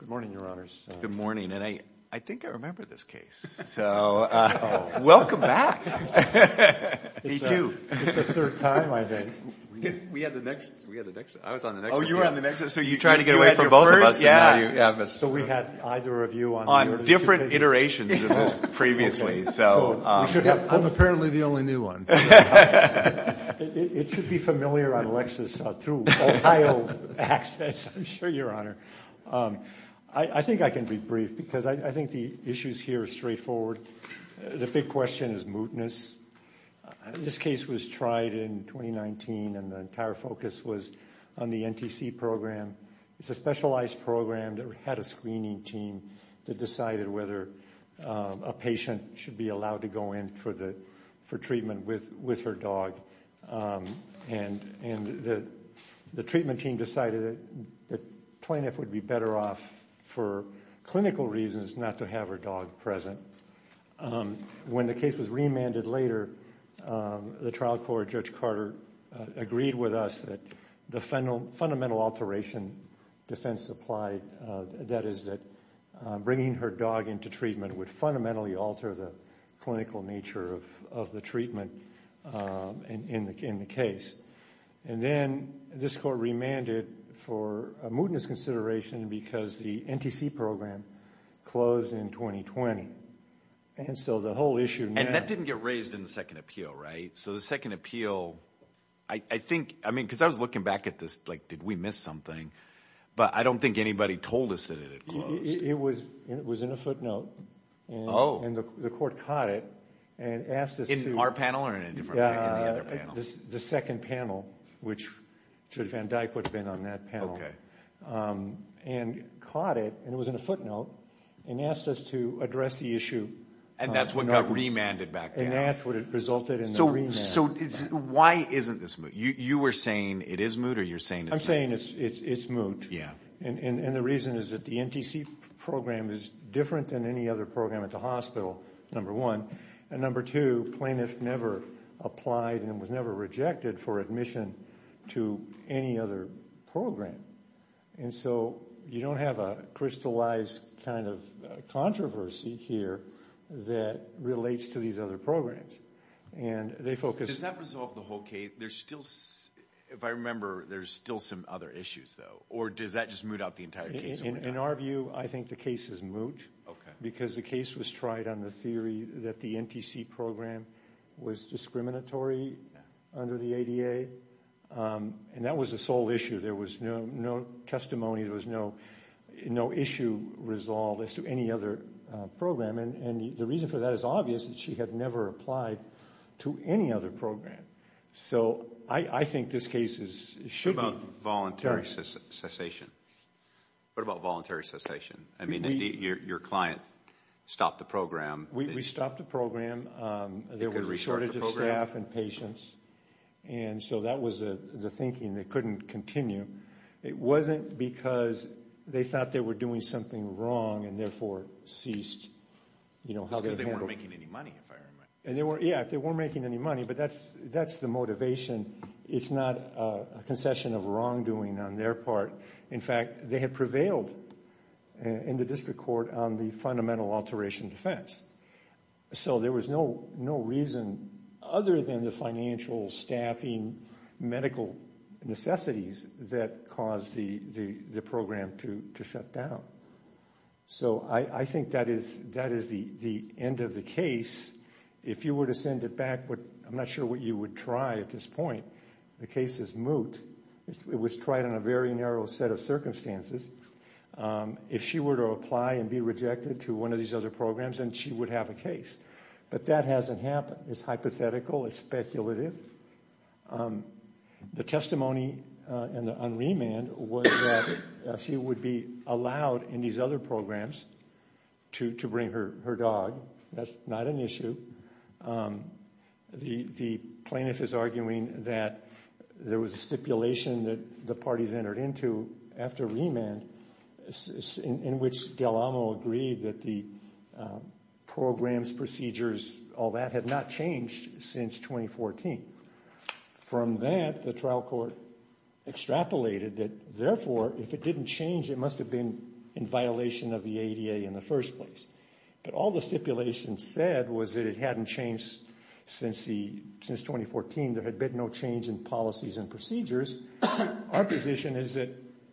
Good morning, Your Honors. Good morning. And I think I remember this case, so welcome back. Me too. It's the third time, I think. We had the next, we had the next, I was on the next. Oh, you were on the next. So you tried to get away from both of us. You had your first, yeah. So we had either of you on either of the two patients. On different iterations of this previously, so. So we should have four. I'm apparently the only new one. It should be familiar on Lexis through Ohio access, I'm sure, Your Honor. I think I can be brief, because I think the issues here are straightforward. The big question is mootness. This case was tried in 2019, and the entire focus was on the NTC program. It's a specialized program that had a screening team that decided whether a patient should be allowed to go in for treatment with her dog. And the treatment team decided that plaintiff would be better off for clinical reasons not to have her dog present. When the case was remanded later, the trial court, Judge Carter, agreed with us that the fundamental alteration defense applied, that is that bringing her dog into treatment would fundamentally alter the clinical nature of the treatment. In the case. And then this court remanded for a mootness consideration because the NTC program closed in 2020. And so the whole issue now. And that didn't get raised in the second appeal, right? So the second appeal, I think, I mean, because I was looking back at this, like, did we miss something? But I don't think anybody told us that it had closed. It was in a footnote. Oh. And the court caught it and asked us to. In our panel or in a different panel? In the other panel. The second panel, which Judge Van Dyke would have been on that panel. Okay. And caught it, and it was in a footnote, and asked us to address the issue. And that's what got remanded back then. And that's what resulted in the remand. So why isn't this moot? You were saying it is moot or you're saying it's moot? I'm saying it's moot. Yeah. And the reason is that the NTC program is different than any other program at the hospital, number one. And number two, Plaintiff never applied and was never rejected for admission to any other program. And so you don't have a crystallized kind of controversy here that relates to these other programs. And they focus. Does that resolve the whole case? There's still, if I remember, there's still some other issues, though. Or does that just moot out the entire case? In our view, I think the case is moot. Okay. Because the case was tried on the theory that the NTC program was discriminatory under the ADA. And that was the sole issue. There was no testimony. There was no issue resolved as to any other program. And the reason for that is obvious. She had never applied to any other program. So I think this case should be. What about voluntary cessation? What about voluntary cessation? Your client stopped the program. We stopped the program. There was shortage of staff and patients. And so that was the thinking. They couldn't continue. It wasn't because they thought they were doing something wrong and, therefore, ceased. It's because they weren't making any money, if I remember. Yeah, if they weren't making any money. But that's the motivation. It's not a concession of wrongdoing on their part. In fact, they had prevailed in the district court on the fundamental alteration defense. So there was no reason other than the financial, staffing, medical necessities that caused the program to shut down. So I think that is the end of the case. If you were to send it back, I'm not sure what you would try at this point. The case is moot. It was tried on a very narrow set of circumstances. If she were to apply and be rejected to one of these other programs, then she would have a case. But that hasn't happened. It's hypothetical. It's speculative. The testimony on remand was that she would be allowed in these other programs to bring her dog. That's not an issue. The plaintiff is arguing that there was a stipulation that the parties entered into after remand in which Del Amo agreed that the programs, procedures, all that had not changed since 2014. From that, the trial court extrapolated that, therefore, if it didn't change, it must have been in violation of the ADA in the first place. But all the stipulation said was that it hadn't changed since 2014. There had been no change in policies and procedures. Our position is that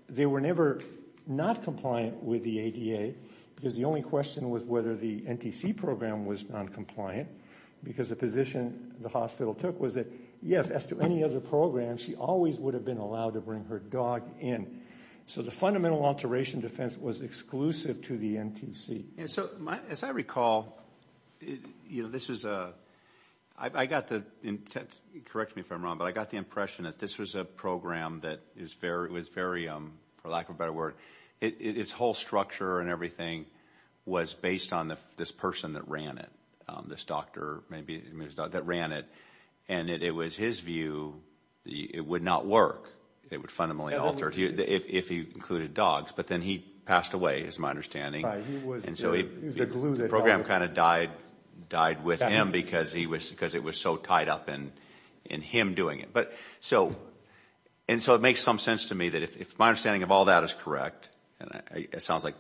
they were never not compliant with the ADA because the only question was whether the NTC program was noncompliant because the position the hospital took was that, yes, as to any other program, she always would have been allowed to bring her dog in. So the fundamental alteration defense was exclusive to the NTC. As I recall, I got the impression that this was a program that was very, for lack of a better word, its whole structure and everything was based on this person that ran it, this doctor that ran it. And it was his view that it would not work. It would fundamentally alter if he included dogs. But then he passed away, is my understanding. And so the program kind of died with him because it was so tied up in him doing it. And so it makes some sense to me that if my understanding of all that is correct, it sounds like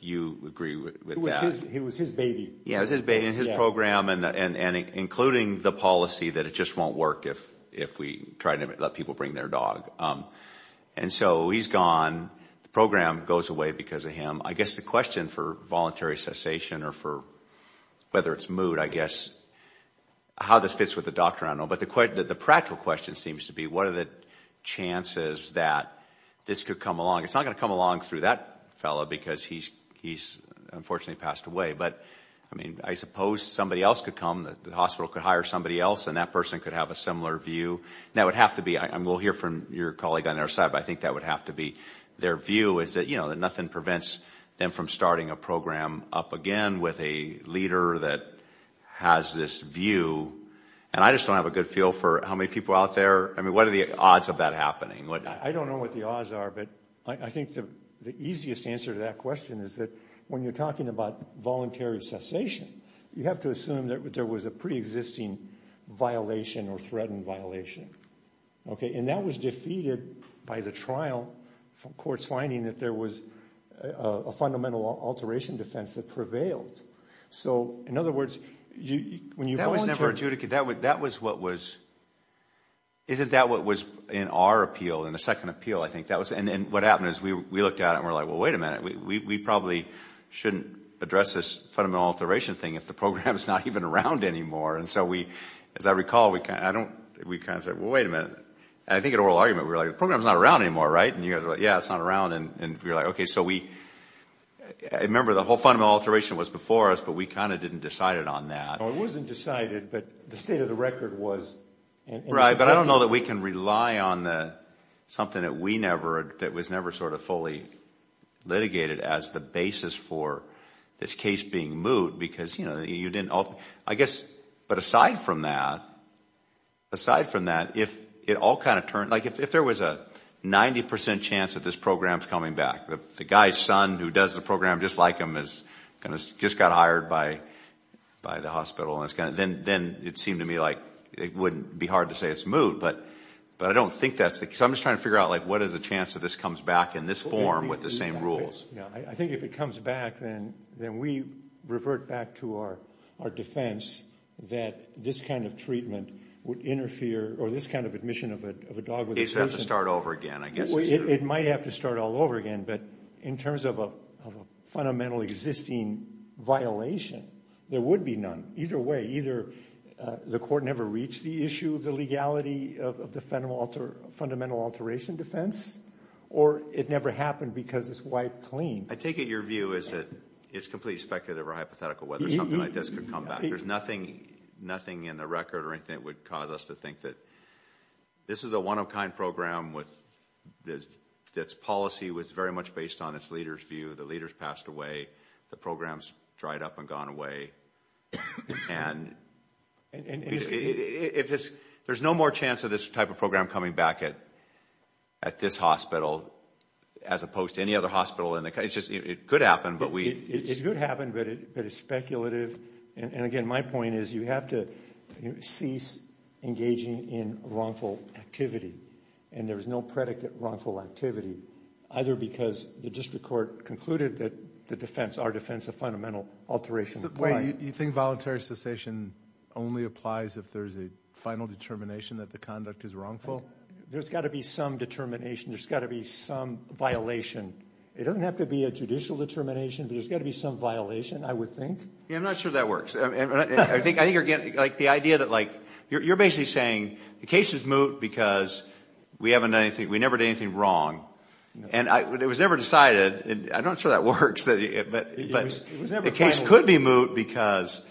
you agree with that. It was his baby. It was his baby and his program and including the policy that it just won't work if we try to let people bring their dog. And so he's gone. The program goes away because of him. I guess the question for voluntary cessation or for whether it's mood, I guess, how this fits with the doctor, I don't know. But the practical question seems to be what are the chances that this could come along. It's not going to come along through that fellow because he's unfortunately passed away. But I suppose somebody else could come. The hospital could hire somebody else and that person could have a similar view. We'll hear from your colleague on our side, but I think that would have to be their view, is that nothing prevents them from starting a program up again with a leader that has this view. And I just don't have a good feel for how many people out there. I mean, what are the odds of that happening? I don't know what the odds are. But I think the easiest answer to that question is that when you're talking about voluntary cessation, you have to assume that there was a preexisting violation or threatened violation. And that was defeated by the trial from courts finding that there was a fundamental alteration defense that prevailed. So, in other words, when you volunteer— That was never adjudicated. That was what was—isn't that what was in our appeal, in the second appeal, I think? And what happened is we looked at it and were like, well, wait a minute. We probably shouldn't address this fundamental alteration thing if the program is not even around anymore. And so we—as I recall, we kind of said, well, wait a minute. And I think in oral argument we were like, the program is not around anymore, right? And you guys were like, yeah, it's not around. And we were like, okay, so we—I remember the whole fundamental alteration was before us, but we kind of didn't decide it on that. It wasn't decided, but the state of the record was. Right, but I don't know that we can rely on something that we never—that was never sort of fully litigated as the basis for this case being moot because, you know, you didn't—I guess— but aside from that, aside from that, if it all kind of turned— like if there was a 90 percent chance that this program is coming back, the guy's son who does the program just like him just got hired by the hospital, then it seemed to me like it wouldn't be hard to say it's moot. But I don't think that's the case. I'm just trying to figure out, like, what is the chance that this comes back in this form with the same rules? Yeah, I think if it comes back, then we revert back to our defense that this kind of treatment would interfere or this kind of admission of a dog— It would have to start over again, I guess. It might have to start all over again, but in terms of a fundamental existing violation, there would be none. Either way, either the court never reached the issue of the legality of the fundamental alteration defense or it never happened because it's wiped clean. I take it your view is that it's completely speculative or hypothetical whether something like this could come back. There's nothing in the record or anything that would cause us to think that this is a one-of-a-kind program with its policy was very much based on its leader's view. The leader's passed away. The program's dried up and gone away. And there's no more chance of this type of program coming back at this hospital as opposed to any other hospital. It could happen, but we— It could happen, but it's speculative. And again, my point is you have to cease engaging in wrongful activity. And there's no predicted wrongful activity either because the district court concluded that the defense, our defense of fundamental alteration— Wait, you think voluntary cessation only applies if there's a final determination that the conduct is wrongful? There's got to be some determination. There's got to be some violation. It doesn't have to be a judicial determination, but there's got to be some violation, I would think. Yeah, I'm not sure that works. I think, again, like the idea that like you're basically saying the case is moot because we haven't done anything. We never did anything wrong. And it was never decided. I'm not sure that works, but the case could be moot because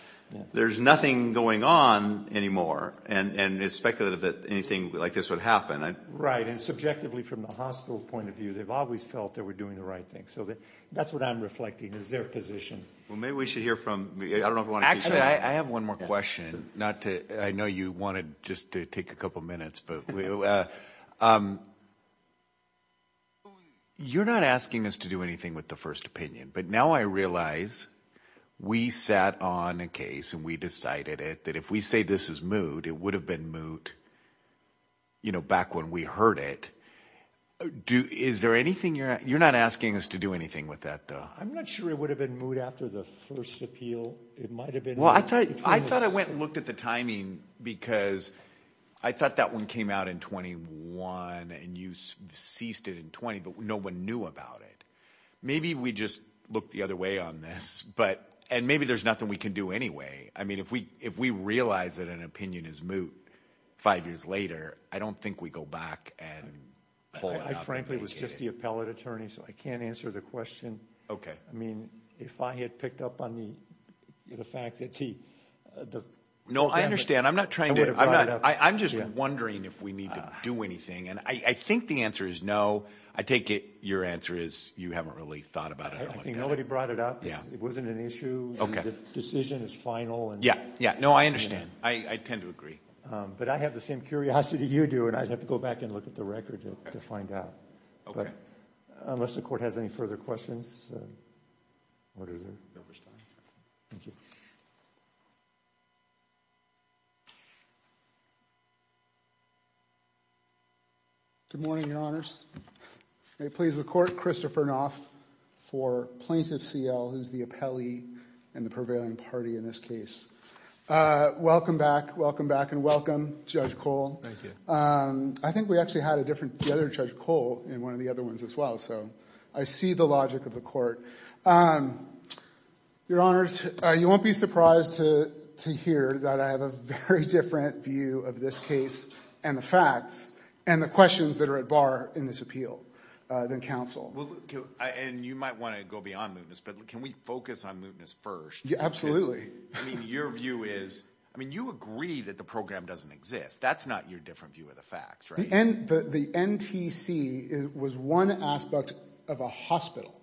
there's nothing going on anymore, and it's speculative that anything like this would happen. Right, and subjectively from the hospital's point of view, they've always felt they were doing the right thing. So that's what I'm reflecting is their position. Well, maybe we should hear from—I don't know if we want to keep going. Actually, I have one more question. I know you wanted just to take a couple minutes, but you're not asking us to do anything with the first opinion, but now I realize we sat on a case and we decided it that if we say this is moot, it would have been moot, you know, back when we heard it. Is there anything you're—you're not asking us to do anything with that, though? I'm not sure it would have been moot after the first appeal. It might have been— Well, I thought I went and looked at the timing because I thought that one came out in 21 and you ceased it in 20, but no one knew about it. Maybe we just looked the other way on this, and maybe there's nothing we can do anyway. I mean, if we realize that an opinion is moot five years later, I don't think we go back and pull it out. I frankly was just the appellate attorney, so I can't answer the question. Okay. I mean, if I had picked up on the fact that he— No, I understand. I'm not trying to— I would have brought it up. I'm just wondering if we need to do anything, and I think the answer is no. I take it your answer is you haven't really thought about it. I think nobody brought it up. It wasn't an issue. Okay. The decision is final. Yeah, yeah. No, I understand. I tend to agree. But I have the same curiosity you do, and I'd have to go back and look at the record to find out. Okay. Unless the Court has any further questions. What is it? No, we're fine. Thank you. Good morning, Your Honors. May it please the Court. Christopher Knopf for Plaintiff CL, who's the appellee and the prevailing party in this case. Welcome back. Welcome back, and welcome, Judge Cole. Thank you. I think we actually had a different—the other Judge Cole in one of the other ones as well, so I see the logic of the Court. Your Honors, you won't be surprised to hear that I have a very different view of this case and the facts and the questions that are at bar in this appeal than counsel. And you might want to go beyond mootness, but can we focus on mootness first? Absolutely. I mean, your view is—I mean, you agree that the program doesn't exist. That's not your different view of the facts, right? The NTC was one aspect of a hospital.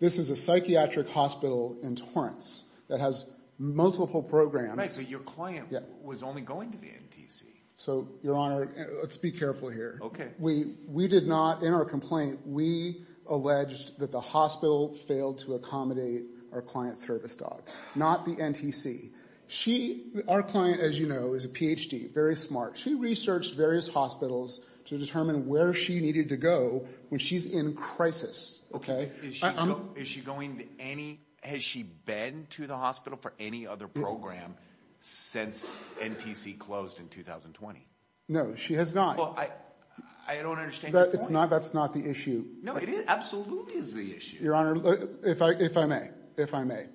This is a psychiatric hospital in Torrance that has multiple programs. Right, but your client was only going to the NTC. So, Your Honor, let's be careful here. Okay. We did not—in our complaint, we alleged that the hospital failed to accommodate our client's service dog, not the NTC. She—our client, as you know, is a Ph.D., very smart. She researched various hospitals to determine where she needed to go when she's in crisis. Is she going to any—has she been to the hospital for any other program since NTC closed in 2020? No, she has not. Well, I don't understand your point. That's not the issue. No, it absolutely is the issue. Your Honor, if I may, if I may.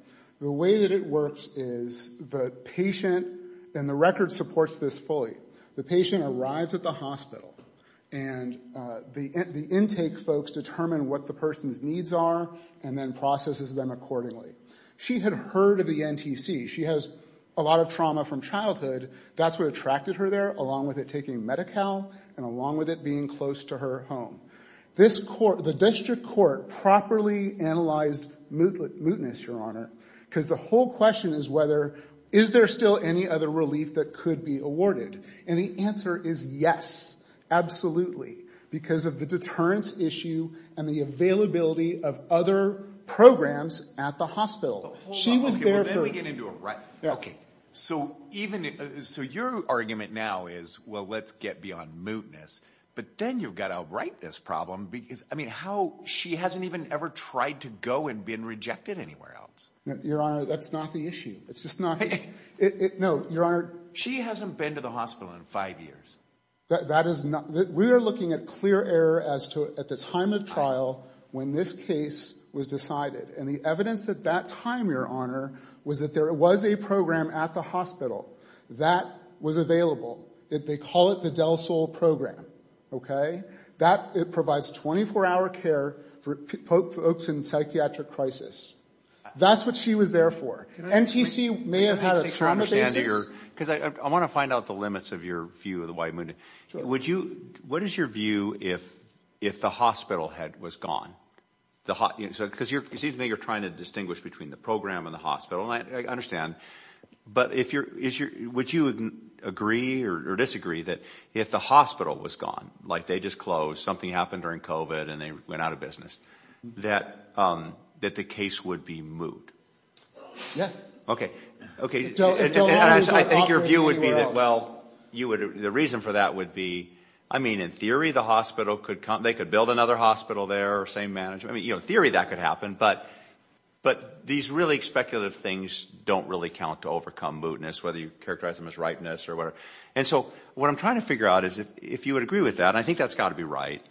The way that it works is the patient—and the record supports this fully. The patient arrives at the hospital and the intake folks determine what the person's needs are and then processes them accordingly. She had heard of the NTC. She has a lot of trauma from childhood. That's what attracted her there, along with it taking Medi-Cal and along with it being close to her home. This court—the district court properly analyzed mootness, Your Honor, because the whole question is whether— is there still any other relief that could be awarded? And the answer is yes, absolutely, because of the deterrence issue and the availability of other programs at the hospital. She was there for— Hold on. Okay, well, then we get into a— Yeah. Okay, so even—so your argument now is, well, let's get beyond mootness. But then you've got to outright this problem because, I mean, how—she hasn't even ever tried to go and been rejected anywhere else. Your Honor, that's not the issue. It's just not—no, Your Honor— She hasn't been to the hospital in five years. That is not—we are looking at clear error as to—at the time of trial when this case was decided. And the evidence at that time, Your Honor, was that there was a program at the hospital that was available. They call it the DELSOL program. Okay? That—it provides 24-hour care for folks in psychiatric crisis. That's what she was there for. NTC may have had a trauma basis. Because I want to find out the limits of your view of the white mootness. Would you—what is your view if the hospital had—was gone? Because it seems to me you're trying to distinguish between the program and the hospital. I understand. But if you're—would you agree or disagree that if the hospital was gone, like they just closed, something happened during COVID and they went out of business, that the case would be moot? Yeah. Okay. I think your view would be that, well, you would—the reason for that would be, I mean, in theory, the hospital could—they could build another hospital there. Same management—I mean, in theory, that could happen. But these really speculative things don't really count to overcome mootness, whether you characterize them as ripeness or whatever. And so what I'm trying to figure out is if you would agree with that, I think that's got to be right,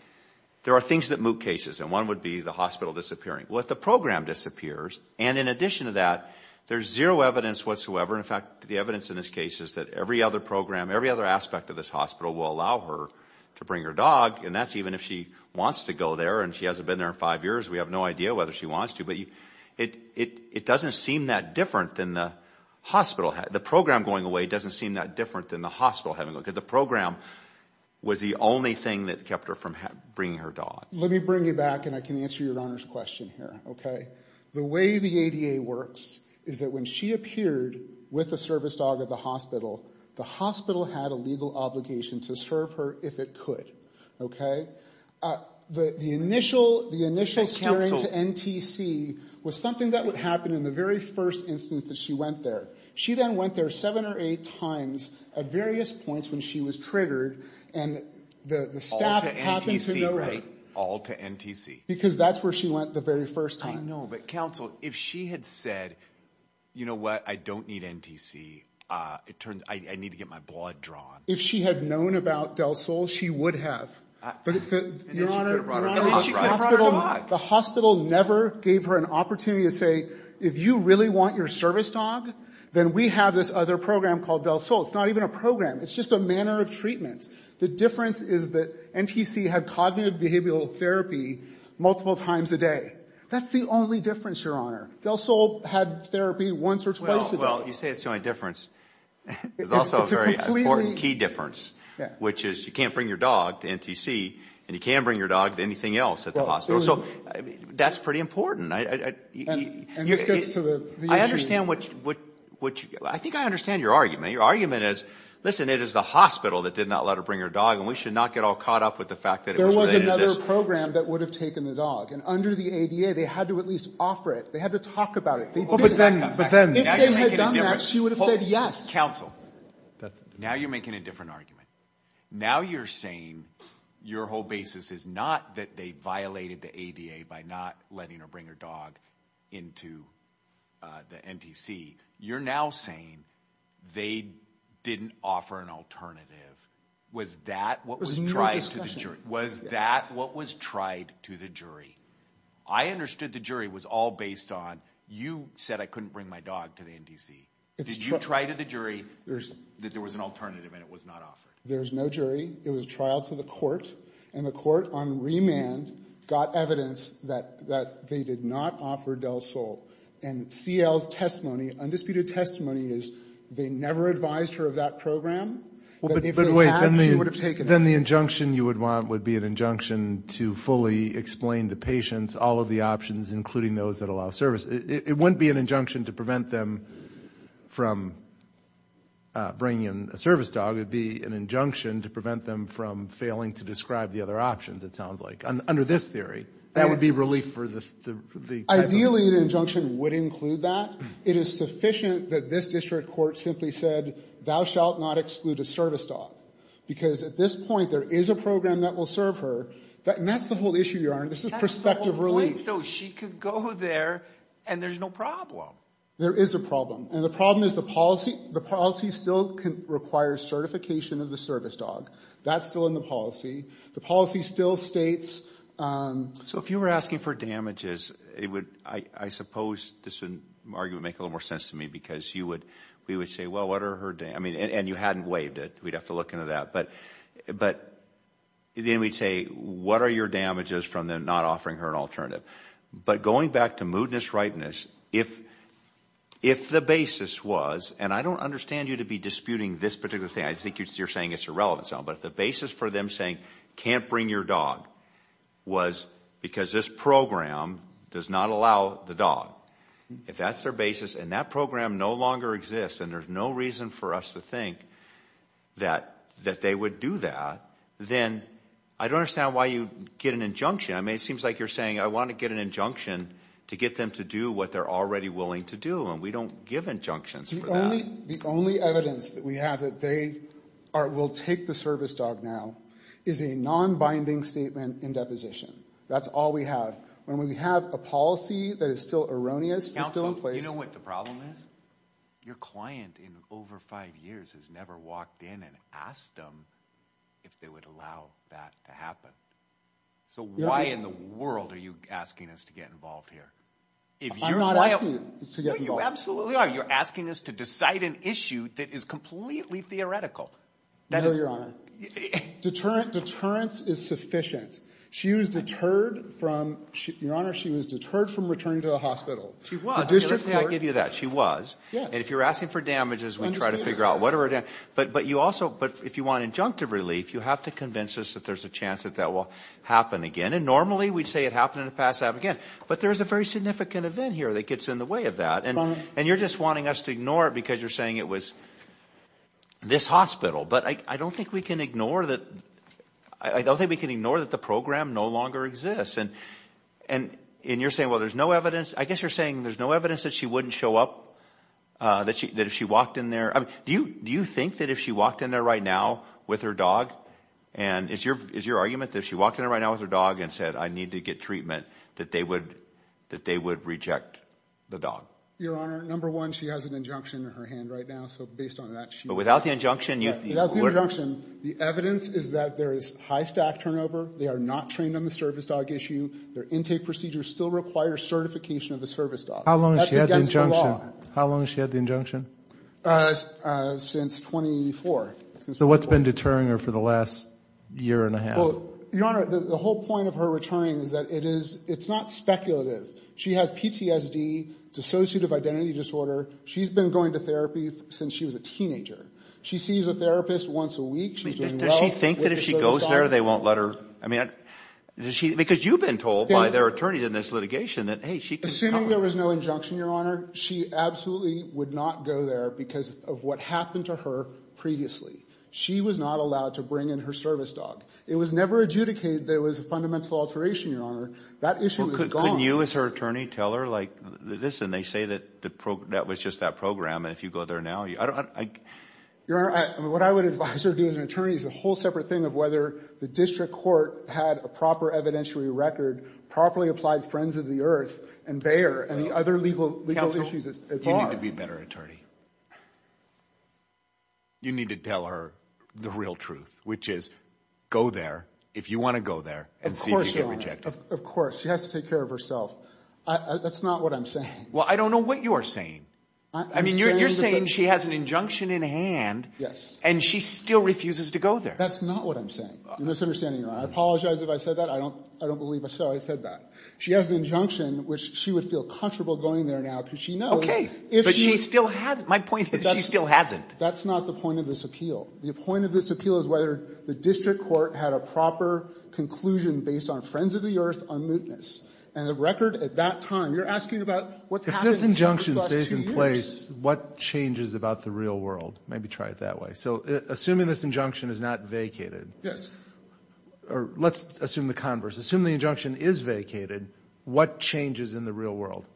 there are things that moot cases. And one would be the hospital disappearing. Well, if the program disappears, and in addition to that, there's zero evidence whatsoever. In fact, the evidence in this case is that every other program, every other aspect of this hospital will allow her to bring her dog. And that's even if she wants to go there and she hasn't been there in five years. We have no idea whether she wants to. But it doesn't seem that different than the hospital—the program going away doesn't seem that different than the hospital having—because the program was the only thing that kept her from bringing her dog. Let me bring you back, and I can answer your Honor's question here, okay? The way the ADA works is that when she appeared with a service dog at the hospital, the hospital had a legal obligation to serve her if it could, okay? The initial—the initial— You said counsel. —steering to NTC was something that would happen in the very first instance that she went there. She then went there seven or eight times at various points when she was triggered, and the staff happened to know her. All to NTC, right? All to NTC. Because that's where she went the very first time. I know, but counsel, if she had said, you know what, I don't need NTC. It turned—I need to get my blood drawn. If she had known about Del Sol, she would have. Your Honor, the hospital never gave her an opportunity to say, if you really want your service dog, then we have this other program called Del Sol. It's not even a program. It's just a manner of treatment. The difference is that NTC had cognitive behavioral therapy multiple times a day. That's the only difference, Your Honor. Del Sol had therapy once or twice a day. Well, you say it's the only difference. There's also a very important key difference, which is you can't bring your dog to NTC, and you can't bring your dog to anything else at the hospital. So that's pretty important. And this gets to the issue. I understand what you—I think I understand your argument. Your argument is, listen, it is the hospital that did not let her bring her dog, and we should not get all caught up with the fact that it was related to this. There was another program that would have taken the dog. And under the ADA, they had to at least offer it. They had to talk about it. But then— If they had done that, she would have said yes. Counsel, now you're making a different argument. Now you're saying your whole basis is not that they violated the ADA by not letting her bring her dog into the NTC. You're now saying they didn't offer an alternative. Was that what was tried to the jury? I understood the jury was all based on you said I couldn't bring my dog to the NTC. Did you try to the jury that there was an alternative and it was not offered? There's no jury. It was a trial to the court, and the court on remand got evidence that they did not offer Del Sol. And CL's testimony, undisputed testimony, is they never advised her of that program. But wait, then the injunction you would want would be an injunction to fully explain to patients all of the options, including those that allow service. It wouldn't be an injunction to prevent them from bringing in a service dog. It would be an injunction to prevent them from failing to describe the other options, it sounds like, under this theory. That would be relief for the type of— Ideally, an injunction would include that. It is sufficient that this district court simply said, thou shalt not exclude a service dog. Because at this point, there is a program that will serve her. And that's the whole issue, Your Honor. This is prospective relief. That's the whole point. So she could go there and there's no problem. There is a problem. And the problem is the policy still requires certification of the service dog. That's still in the policy. The policy still states— So if you were asking for damages, I suppose this argument would make a little more sense to me. Because you would—we would say, well, what are her—I mean, and you hadn't waived it. We'd have to look into that. But then we'd say, what are your damages from them not offering her an alternative? But going back to moodiness, ripeness, if the basis was—and I don't understand you to be disputing this particular thing. I think you're saying it's irrelevant. But the basis for them saying can't bring your dog was because this program does not allow the dog. If that's their basis and that program no longer exists and there's no reason for us to think that they would do that, then I don't understand why you'd get an injunction. I mean, it seems like you're saying I want to get an injunction to get them to do what they're already willing to do. And we don't give injunctions for that. The only evidence that we have that they are—will take the service dog now is a nonbinding statement in deposition. That's all we have. When we have a policy that is still erroneous and still in place— Counsel, you know what the problem is? Your client in over five years has never walked in and asked them if they would allow that to happen. So why in the world are you asking us to get involved here? I'm not asking you to get involved. No, you absolutely are. You're asking us to decide an issue that is completely theoretical. Deterrence is sufficient. She was deterred from—Your Honor, she was deterred from returning to the hospital. She was. Let's say I give you that. She was. Yes. And if you're asking for damages, we try to figure out whatever— But you also—but if you want injunctive relief, you have to convince us that there's a chance that that will happen again. And normally we'd say it happened and it passed out again. But there's a very significant event here that gets in the way of that. And you're just wanting us to ignore it because you're saying it was this hospital. But I don't think we can ignore that—I don't think we can ignore that the program no longer exists. And you're saying, well, there's no evidence. I guess you're saying there's no evidence that she wouldn't show up, that if she walked in there— Do you think that if she walked in there right now with her dog and— Is your argument that if she walked in there right now with her dog and said, I need to get treatment, that they would reject the dog? Your Honor, number one, she has an injunction in her hand right now. So based on that, she— But without the injunction, you— Without the injunction, the evidence is that there is high staff turnover. They are not trained on the service dog issue. Their intake procedure still requires certification of a service dog. How long has she had the injunction? How long has she had the injunction? Since 2004. So what's been deterring her for the last year and a half? Well, Your Honor, the whole point of her returning is that it is—it's not speculative. She has PTSD, dissociative identity disorder. She's been going to therapy since she was a teenager. She sees a therapist once a week. Does she think that if she goes there, they won't let her—I mean, does she—because you've been told by their attorneys in this litigation that, hey, she can— Assuming there was no injunction, Your Honor, she absolutely would not go there because of what happened to her previously. She was not allowed to bring in her service dog. It was never adjudicated that it was a fundamental alteration, Your Honor. That issue is gone. Well, couldn't you as her attorney tell her, like, listen, they say that the—that was just that program, and if you go there now, I don't— Your Honor, what I would advise her to do as an attorney is a whole separate thing of whether the district court had a proper evidentiary record, properly applied Friends of the Earth, and Bayer, and the other legal issues at large. Counsel, you need to be a better attorney. You need to tell her the real truth, which is go there if you want to go there and see if you get rejected. Of course, Your Honor. She has to take care of herself. That's not what I'm saying. Well, I don't know what you are saying. I'm saying that— I mean, you're saying she has an injunction in hand. Yes. And she still refuses to go there. That's not what I'm saying. You're misunderstanding, Your Honor. I apologize if I said that. I don't believe I said that. She has an injunction, which she would feel comfortable going there now because she knows— My point is she still hasn't. That's not the point of this appeal. The point of this appeal is whether the district court had a proper conclusion based on Friends of the Earth, on mootness. And the record at that time—you're asking about what's happened— If this injunction stays in place, what changes about the real world? Maybe try it that way. So assuming this injunction is not vacated— Yes. Or let's assume the converse. Assuming the injunction is vacated, what changes in the real world?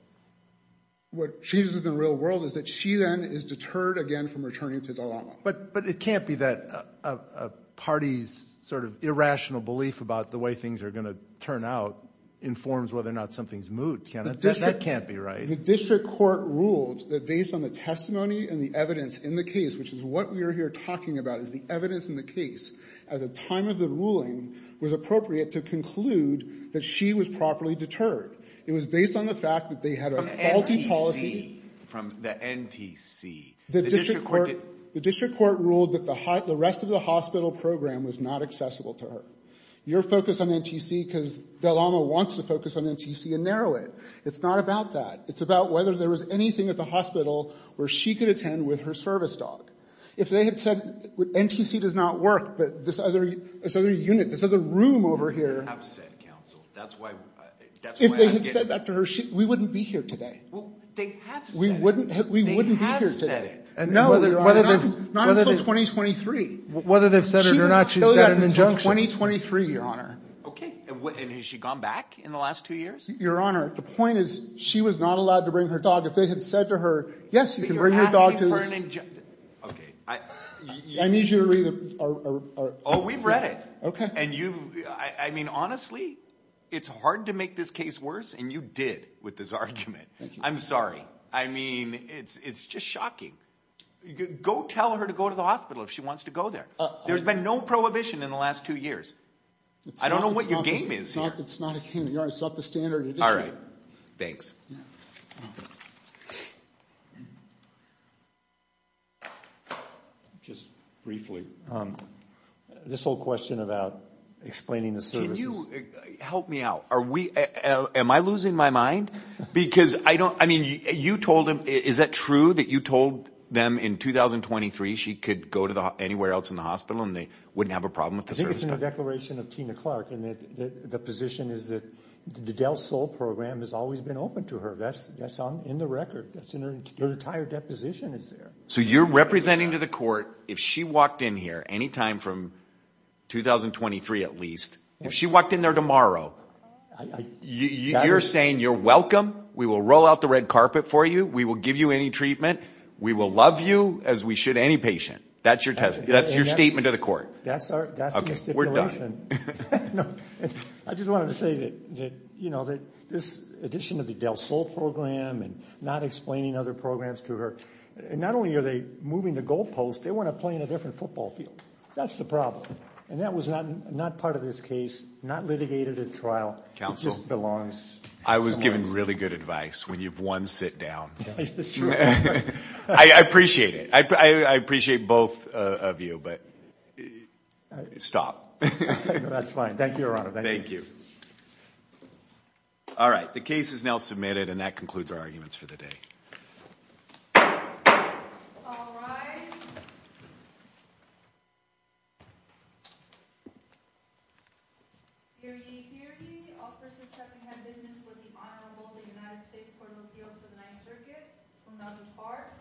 What changes in the real world is that she then is deterred again from returning to Dalama. But it can't be that a party's sort of irrational belief about the way things are going to turn out informs whether or not something is moot, can it? That can't be right. The district court ruled that based on the testimony and the evidence in the case, which is what we are here talking about, is the evidence in the case at the time of the ruling was appropriate to conclude that she was properly deterred. It was based on the fact that they had a faulty policy— From the NTC. The district court ruled that the rest of the hospital program was not accessible to her. You're focused on NTC because Dalama wants to focus on NTC and narrow it. It's not about that. It's about whether there was anything at the hospital where she could attend with her service dog. If they had said NTC does not work, but this other unit, this other room over here— If they had said that to her, we wouldn't be here today. We wouldn't be here today. Not until 2023. Whether they've said it or not, she's got an injunction. 2023, Your Honor. Okay. And has she gone back in the last two years? Your Honor, the point is she was not allowed to bring her dog. If they had said to her, yes, you can bring your dog to this— Okay. I need you to read the— Oh, we've read it. Okay. I mean, honestly, it's hard to make this case worse, and you did with this argument. I'm sorry. I mean, it's just shocking. Go tell her to go to the hospital if she wants to go there. There's been no prohibition in the last two years. I don't know what your game is here. It's not the standard. All right. Thanks. Yeah. Just briefly. This whole question about explaining the services. Can you help me out? Are we—am I losing my mind? Because I don't—I mean, you told them. Is that true that you told them in 2023 she could go to anywhere else in the hospital and they wouldn't have a problem with the service dog? I think it's in the declaration of Tina Clark, and the position is that the Del Sol program has always been open to her. That's in the record. That's in her entire deposition is there. So you're representing to the court if she walked in here anytime from 2023 at least, if she walked in there tomorrow, you're saying you're welcome, we will roll out the red carpet for you, we will give you any treatment, we will love you as we should any patient. That's your statement to the court. That's the stipulation. I just wanted to say that, you know, this addition of the Del Sol program and not explaining other programs to her, not only are they moving the goalposts, they want to play in a different football field. That's the problem. And that was not part of this case, not litigated at trial. It just belongs. I was given really good advice. When you've won, sit down. I appreciate it. I appreciate both of you, but stop. Stop. That's fine. Thank you, Your Honor. Thank you. All right. The case is now submitted and that concludes our arguments for the day. All rise. Hear ye. Hear ye. Officer Tuckingham business with the Honorable United States Court of Appeals for the Ninth Circuit will now depart for this session. Now stand adjourned.